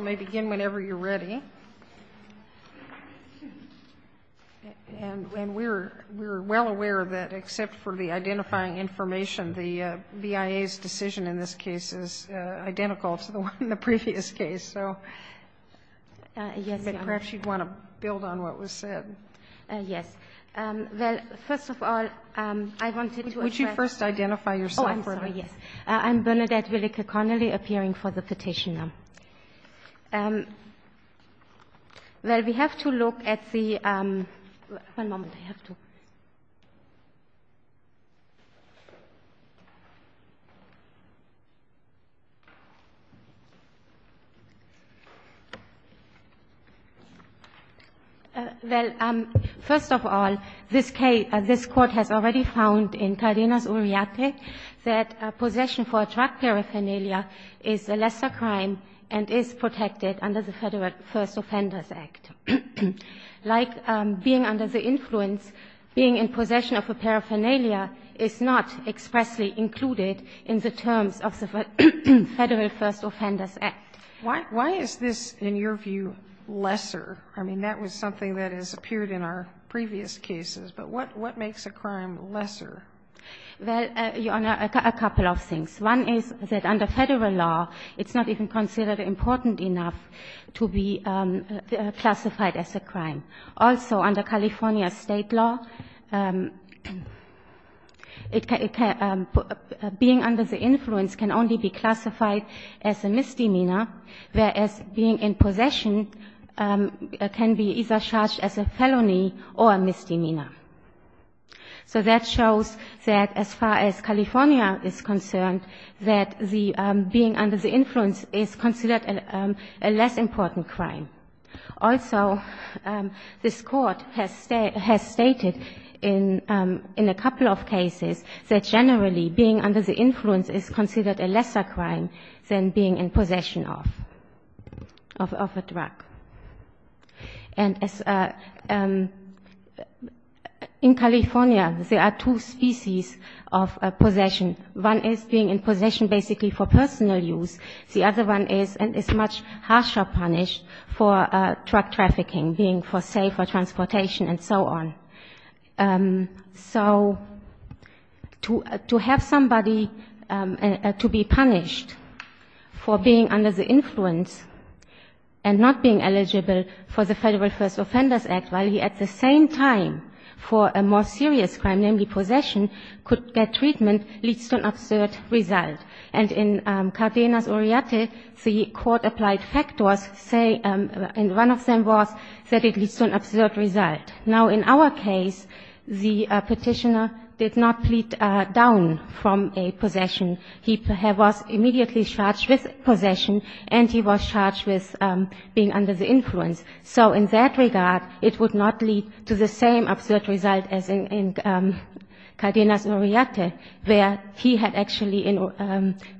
may begin whenever you're ready. And we're well aware that except for the identifying information, the BIA's decision in this case is identical to the one in the previous case. So perhaps you'd want to build on what was said. Yes. Well, first of all, I wanted to address Would you first identify yourself? I'm sorry, yes. I'm Bernadette Willeke-Connolly, appearing for the petitioner. Well, we have to look at the one moment. I have to. Well, first of all, this case, this Court has already found in Cardenas-Urriate that possession for a drug paraphernalia is a lesser crime and is protected under the Federal First Offenders Act. Like being under the influence, being in possession of a paraphernalia is not expressly included in the terms of the Federal First Offenders Act. Why is this, in your view, lesser? I mean, that was something that has appeared in our previous cases. But what makes a crime lesser? Well, Your Honor, a couple of things. One is that under Federal law, it's not even considered important enough to be classified as a crime. Also, under California State law, it can be under the influence can only be classified as a misdemeanor, whereas being in possession can be either charged as a felony or a misdemeanor. So that shows that as far as California is concerned, that the being under the influence is considered a less important crime. Also, this Court has stated in a couple of cases that generally being under the influence is considered a lesser crime than being in possession of a drug. And in California, there are two species of possession. One is being in possession basically for personal use. The other one is much harsher punish for drug trafficking, being for, say, for transportation and so on. So to have somebody to be punished for being under the influence and not being eligible for the Federal First Offenders Act while he at the same time for a more serious crime, namely possession, could get treatment leads to an absurd result. And in Cardenas-Oriate, the Court applied factors, say, and one of them was that it leads to an absurd result. Now, in our case, the Petitioner did not plead down from a possession. He was immediately charged with possession, and he was charged with being under the influence. So in that regard, it would not lead to the same absurd result as in Cardenas-Oriate, where he had actually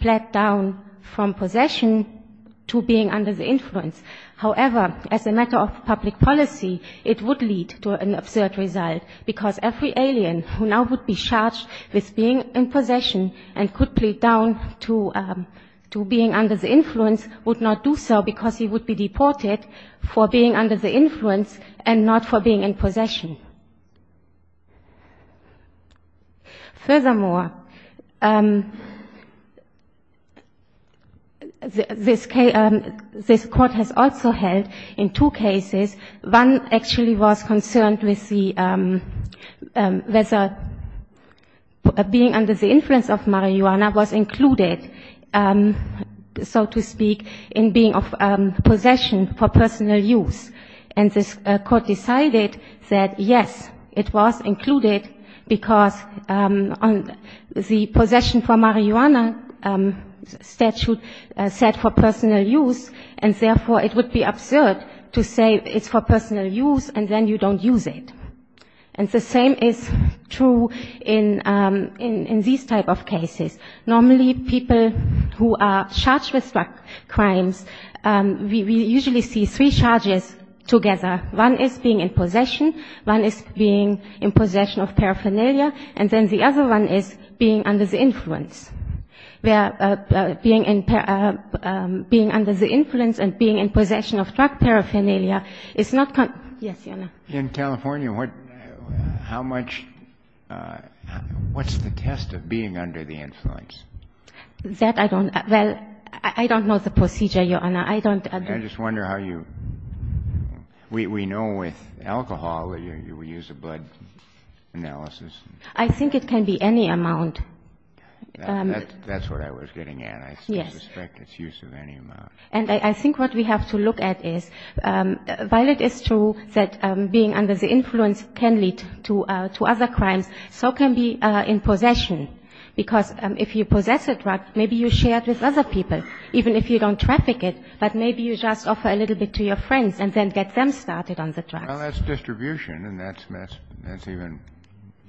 pled down from possession to being under the influence. However, as a matter of public policy, it would lead to an absurd result, because every alien who now would be charged with being in possession and could plead down to being under the influence and not for being in possession. Furthermore, this Court has also held in two cases, one actually was concerned with whether being under the influence of marijuana was included, so to speak, in being of personal use. And this Court decided that, yes, it was included, because the possession for marijuana statute said for personal use, and therefore it would be absurd to say it's for personal use, and then you don't use it. And the same is true in these type of cases. Normally, people who are charged with drug crimes, we usually see three charges together. One is being in possession, one is being in possession of paraphernalia, and then the other one is being under the influence, where being under the influence and being in possession of drug paraphernalia is not concerned. Yes, Your Honor. In California, what's the test of being under the influence? That I don't know. Well, I don't know the procedure, Your Honor. I don't agree. I just wonder how you – we know with alcohol, we use a blood analysis. I think it can be any amount. That's what I was getting at. Yes. I suspect it's use of any amount. And I think what we have to look at is, while it is true that being under the influence can lead to other crimes, so can being in possession. Because if you possess a drug, maybe you share it with other people, even if you don't traffic it. But maybe you just offer a little bit to your friends and then get them started on the drugs. Well, that's distribution, and that's even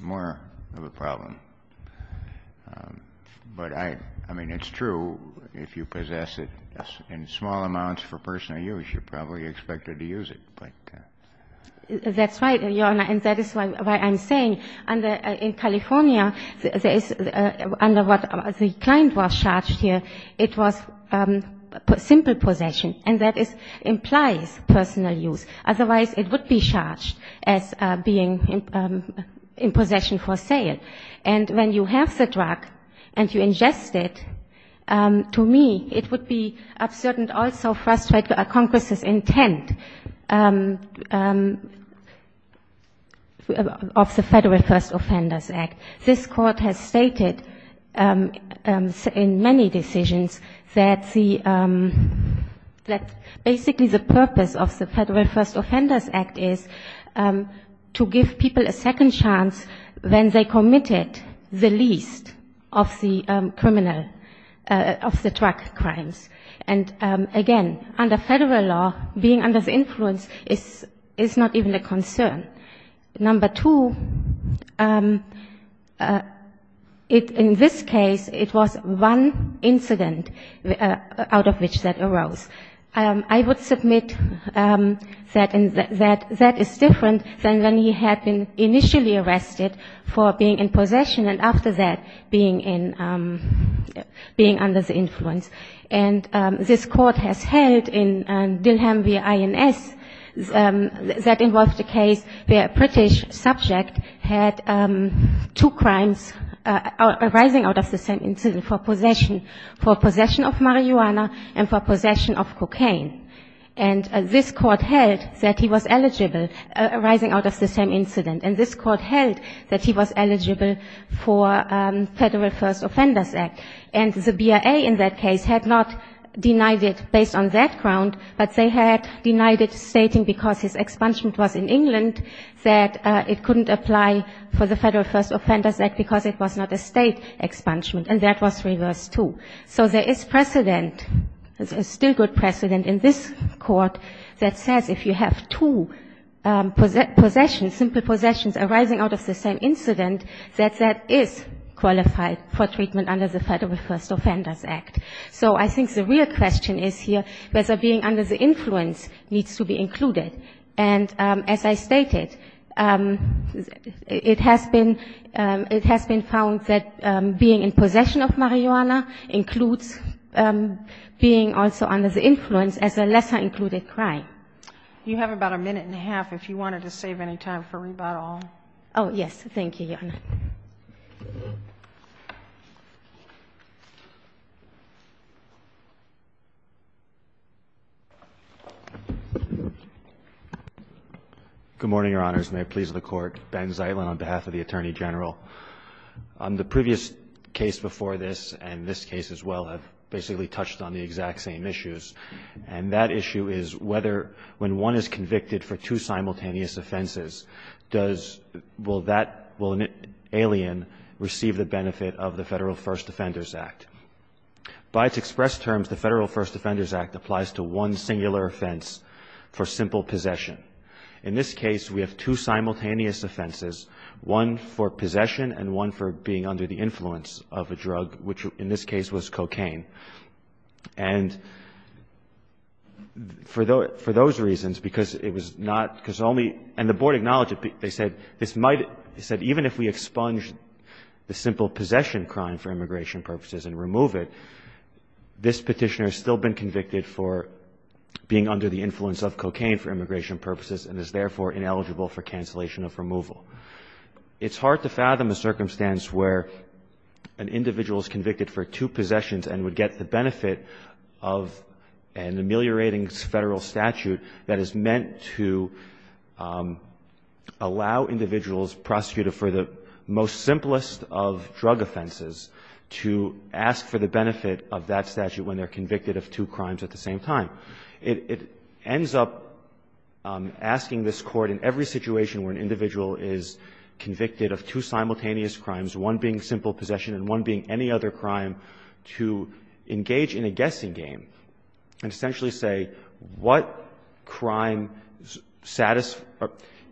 more of a problem. But I mean, it's true if you possess it in small amounts for personal use, you're probably expected to use it. That's right, Your Honor. And that is why I'm saying in California, under what the client was charged here, it was simple possession. And that implies personal use. Otherwise, it would be charged as being in possession for sale. And when you have the drug and you ingest it, to me, it would be absurd and also frustrate Congress's intent of the Federal First Offenders Act. This Court has stated in many decisions that basically the purpose of the Federal First Offenders Act is to give people a second chance when they committed the least of the criminal, of the drug crimes. And again, under Federal law, being under the influence is not even a concern. Number two, in this case, it was one incident out of which that arose. I would submit that that is different than when he had been initially arrested for being in possession, being under the influence. And this Court has held in Dillheim v. INS that involved a case where a British subject had two crimes arising out of the same incident for possession of marijuana and for possession of cocaine. And this Court held that he was eligible, arising out of the same incident. And this Court held that he was eligible for Federal First Offenders Act. And the BIA in that case had not denied it based on that ground, but they had denied it stating because his expungement was in England, that it couldn't apply for the Federal First Offenders Act because it was not a state expungement. And that was reversed, too. So there is precedent, still good precedent, in this Court that says if you have two possessions, simple possessions, arising out of the same incident, that that is qualified for treatment under the Federal First Offenders Act. So I think the real question is here whether being under the influence needs to be included. And as I stated, it has been found that being in possession of marijuana includes being also under the influence as a lesser-included crime. You have about a minute and a half if you wanted to save any time for rebuttal. Oh, yes. Thank you, Your Honor. Good morning, Your Honors, and may it please the Court. Ben Zeitlin on behalf of the Attorney General. The previous case before this and this case as well have basically touched on the exact same issues, and that issue is whether when one is convicted for two simultaneous offenses, does the alien receive the benefit of the Federal First Defenders Act? By its express terms, the Federal First Defenders Act applies to one singular offense for simple possession. In this case, we have two simultaneous offenses, one for possession and one for being under the influence of a drug, which in this case was cocaine. And for those reasons, because it was not – because only – and the Board acknowledged it. They said this might – they said even if we expunge the simple possession crime for immigration purposes and remove it, this Petitioner has still been convicted for being under the influence of cocaine for immigration purposes and is therefore ineligible for cancellation of removal. It's hard to fathom a circumstance where an individual is convicted for two possessions and would get the benefit of an ameliorating Federal statute that is meant to allow individuals prosecuted for the most simplest of drug offenses to ask for the benefit of that statute when they're convicted of two crimes at the same time. It ends up asking this Court in every situation where an individual is convicted of two simultaneous crimes, one being simple possession and one being any other crime, to engage in a guessing game and essentially say what crime –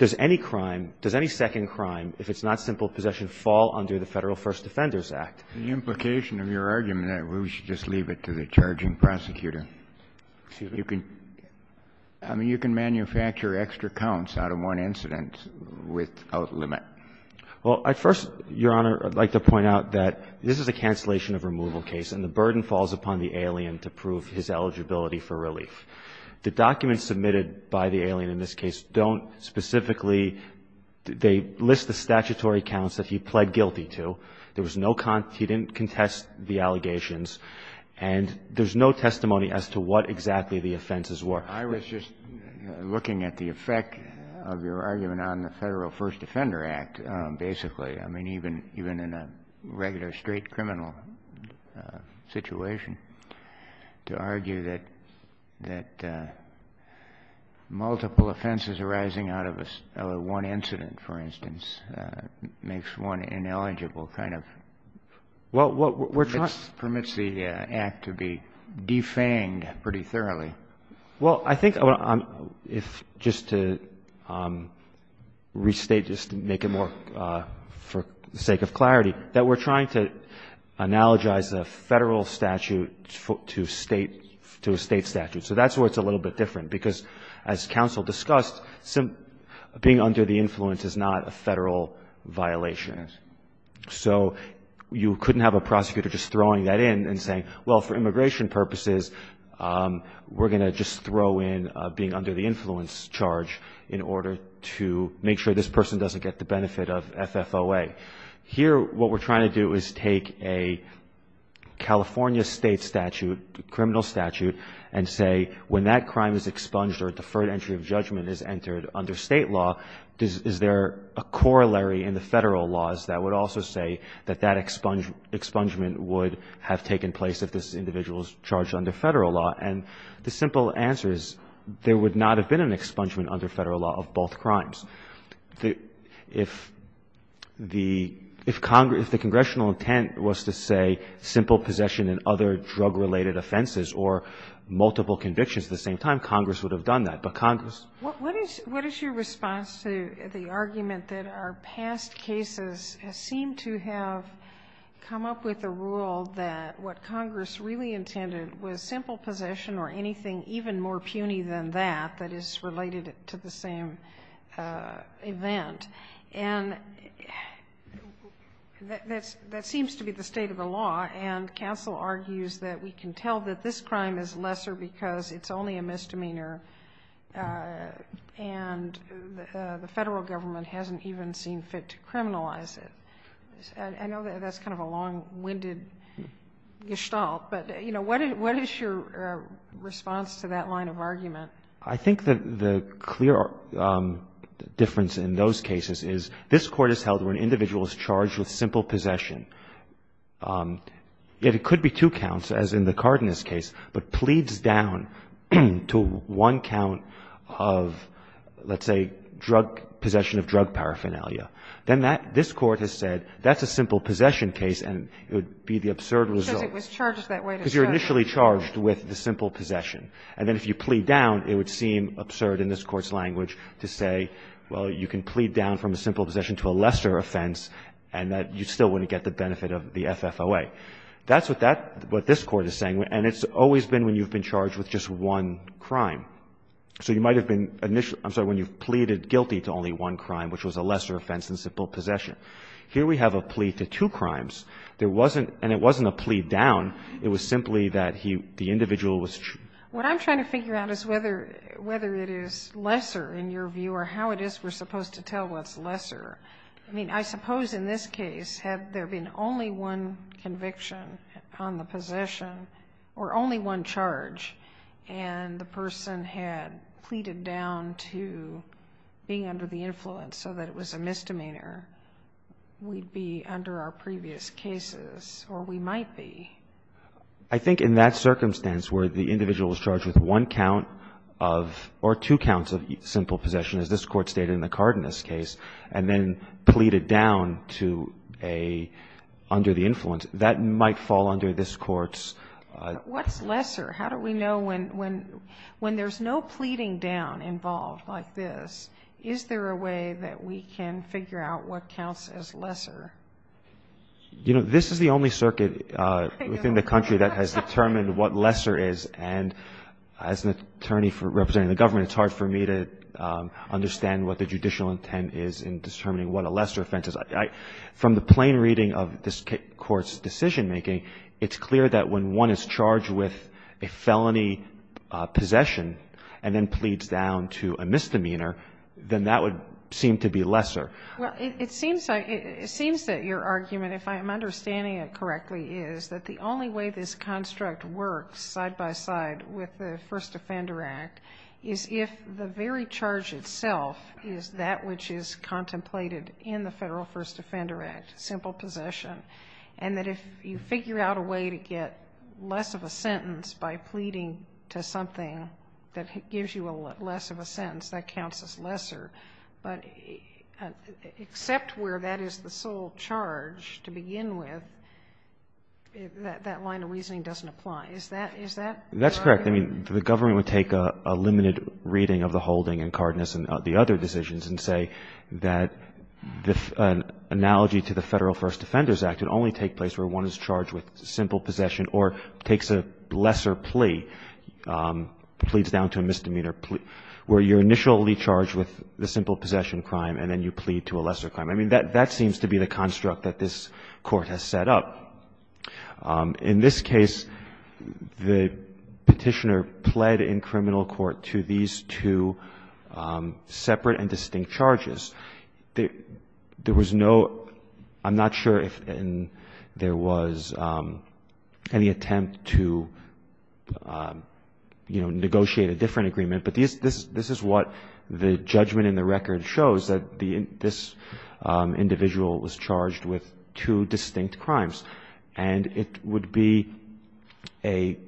does any crime, does any second crime, if it's not simple possession, fall under the Federal First Defenders Act? The implication of your argument, we should just leave it to the charging prosecutor. I mean, you can manufacture extra counts out of one incident without limit. Well, at first, Your Honor, I'd like to point out that this is a cancellation of removal case, and the burden falls upon the alien to prove his eligibility for relief. The documents submitted by the alien in this case don't specifically – they list the statutory counts that he pled guilty to. There was no – he didn't contest the allegations, and there's no testimony as to what exactly the offenses were. I was just looking at the effect of your argument on the Federal First Defender Act, basically. I mean, even in a regular straight criminal situation, to argue that multiple offenses arising out of one incident, for instance, makes one ineligible kind of permits the act to be defanged pretty thoroughly. Well, I think if – just to restate, just to make it more – for the sake of clarity, that we're trying to analogize a Federal statute to State – to a State statute. So that's where it's a little bit different, because as counsel discussed, being under the influence is not a Federal violation. Yes. So you couldn't have a prosecutor just throwing that in and saying, well, for immigration purposes, we're going to just throw in being under the influence charge in order to make sure this person doesn't get the benefit of FFOA. Here, what we're trying to do is take a California State statute, criminal statute, and say when that crime is expunged or a deferred entry of judgment is there a corollary in the Federal laws that would also say that that expungement would have taken place if this individual was charged under Federal law. And the simple answer is there would not have been an expungement under Federal law of both crimes. If the – if Congress – if the congressional intent was to say simple possession in other drug-related offenses or multiple convictions at the same time, Congress would have done that. But Congress? What is your response to the argument that our past cases seem to have come up with a rule that what Congress really intended was simple possession or anything even more puny than that, that is related to the same event? And that seems to be the state of the law, and counsel argues that we can tell that this crime is lesser because it's only a misdemeanor and the Federal government hasn't even seen fit to criminalize it. I know that's kind of a long-winded gestalt, but, you know, what is your response to that line of argument? I think that the clear difference in those cases is this Court has held where an individual is charged with simple possession, yet it could be two counts, as in the Cardenas case, but pleads down to one count of, let's say, possession of drug paraphernalia. Then that – this Court has said that's a simple possession case and it would be the absurd result. Because it was charged that way to start with. Because you're initially charged with the simple possession. And then if you plead down, it would seem absurd in this Court's language to say, well, you can plead down from a simple possession to a lesser offense, and that you still wouldn't get the benefit of the FFOA. That's what that – what this Court is saying. And it's always been when you've been charged with just one crime. So you might have been initially – I'm sorry, when you've pleaded guilty to only one crime, which was a lesser offense than simple possession. Here we have a plea to two crimes. There wasn't – and it wasn't a plea down. It was simply that he – the individual was – What I'm trying to figure out is whether it is lesser, in your view, or how it is we're supposed to tell what's lesser. I mean, I suppose in this case, had there been only one conviction on the possession or only one charge, and the person had pleaded down to being under the influence so that it was a misdemeanor, we'd be under our previous cases, or we might be. I think in that circumstance where the individual was charged with one count of – or two counts of simple possession, as this Court stated in the Cardenas case, and then pleaded down to a – under the influence, that might fall under this Court's What's lesser? How do we know when – when there's no pleading down involved like this, is there You know, this is the only circuit within the country that has determined what lesser is, and as an attorney representing the government, it's hard for me to understand what the judicial intent is in determining what a lesser offense is. From the plain reading of this Court's decision-making, it's clear that when one is charged with a felony possession and then pleads down to a misdemeanor, then that would seem to be lesser. Well, it seems that your argument, if I'm understanding it correctly, is that the only way this construct works side-by-side with the First Offender Act is if the very charge itself is that which is contemplated in the Federal First Offender Act, simple possession, and that if you figure out a way to get less of a sentence by pleading to something that gives you less of a sentence, that counts as lesser. But except where that is the sole charge to begin with, that line of reasoning doesn't apply. Is that right? That's correct. I mean, the government would take a limited reading of the holding in Cardenas and the other decisions and say that an analogy to the Federal First Offenders Act would only take place where one is charged with simple possession or takes a lesser plea, pleads down to a misdemeanor, where you're initially charged with the simple possession crime and then you plead to a lesser crime. I mean, that seems to be the construct that this Court has set up. In this case, the Petitioner pled in criminal court to these two separate and distinct charges. There was no – I'm not sure if there was any attempt to, you know, negotiate a different agreement, but this is what the judgment in the record shows, that this individual was charged with two distinct crimes. And it would be a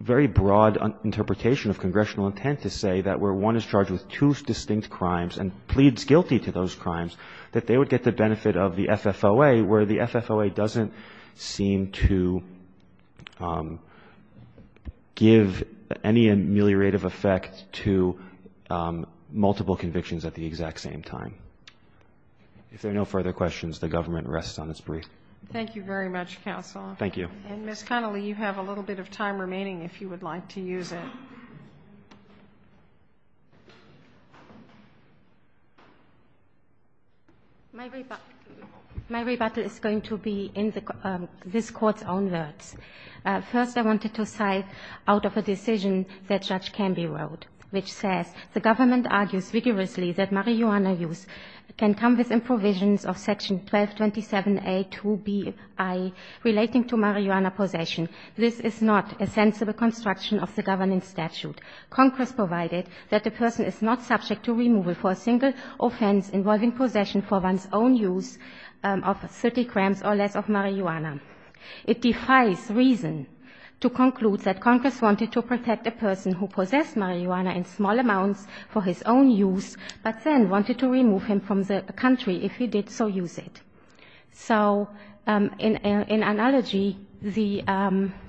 very broad interpretation of congressional intent to say that where one is charged with two distinct crimes and pleads guilty to those crimes, that they would get the benefit of the FFOA, where the FFOA doesn't seem to give any ameliorative effect to multiple convictions at the exact same time. If there are no further questions, the government rests on its brief. Thank you very much, counsel. Thank you. And, Ms. Connolly, you have a little bit of time remaining if you would like to use it. My rebuttal is going to be in this Court's own words. First, I wanted to cite out of a decision that Judge Canby wrote, which says the government argues vigorously that marijuana use can come within provisions of section 1227A2BI relating to marijuana possession. This is not a sensible construction of the governance statute. Congress provided that the person is not subject to removal for a single offense involving possession for one's own use of 30 grams or less of marijuana. It defies reason to conclude that Congress wanted to protect a person who possessed marijuana in small amounts for his own use, but then wanted to remove him from the country if he did so use it. So, in analogy, the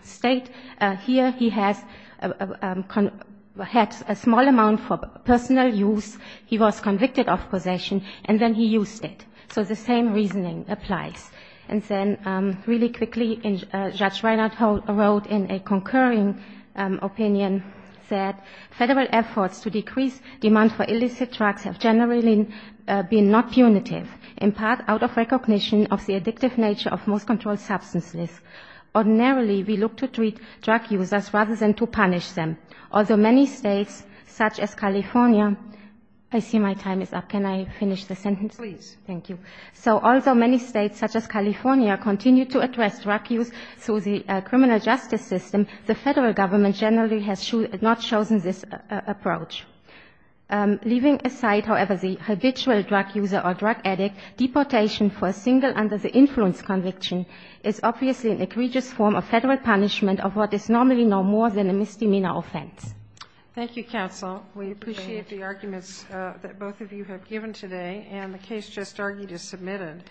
State here, he has a small amount for personal use. He was convicted of possession, and then he used it. So the same reasoning applies. And then really quickly, Judge Reinert wrote in a concurring opinion that federal efforts to decrease demand for illicit drugs have generally been not punitive, in part of recognition of the addictive nature of most controlled substances. Ordinarily, we look to treat drug users rather than to punish them. Although many states, such as California, I see my time is up. Can I finish the sentence? Please. Thank you. So although many states, such as California, continue to address drug use through the criminal justice system, the federal government generally has not chosen this approach. Leaving aside, however, the habitual drug user or drug addict, deportation for a single under the influence conviction is obviously an egregious form of federal punishment of what is normally no more than a misdemeanor offense. Thank you, counsel. We appreciate the arguments that both of you have given today. And the case just argued is submitted.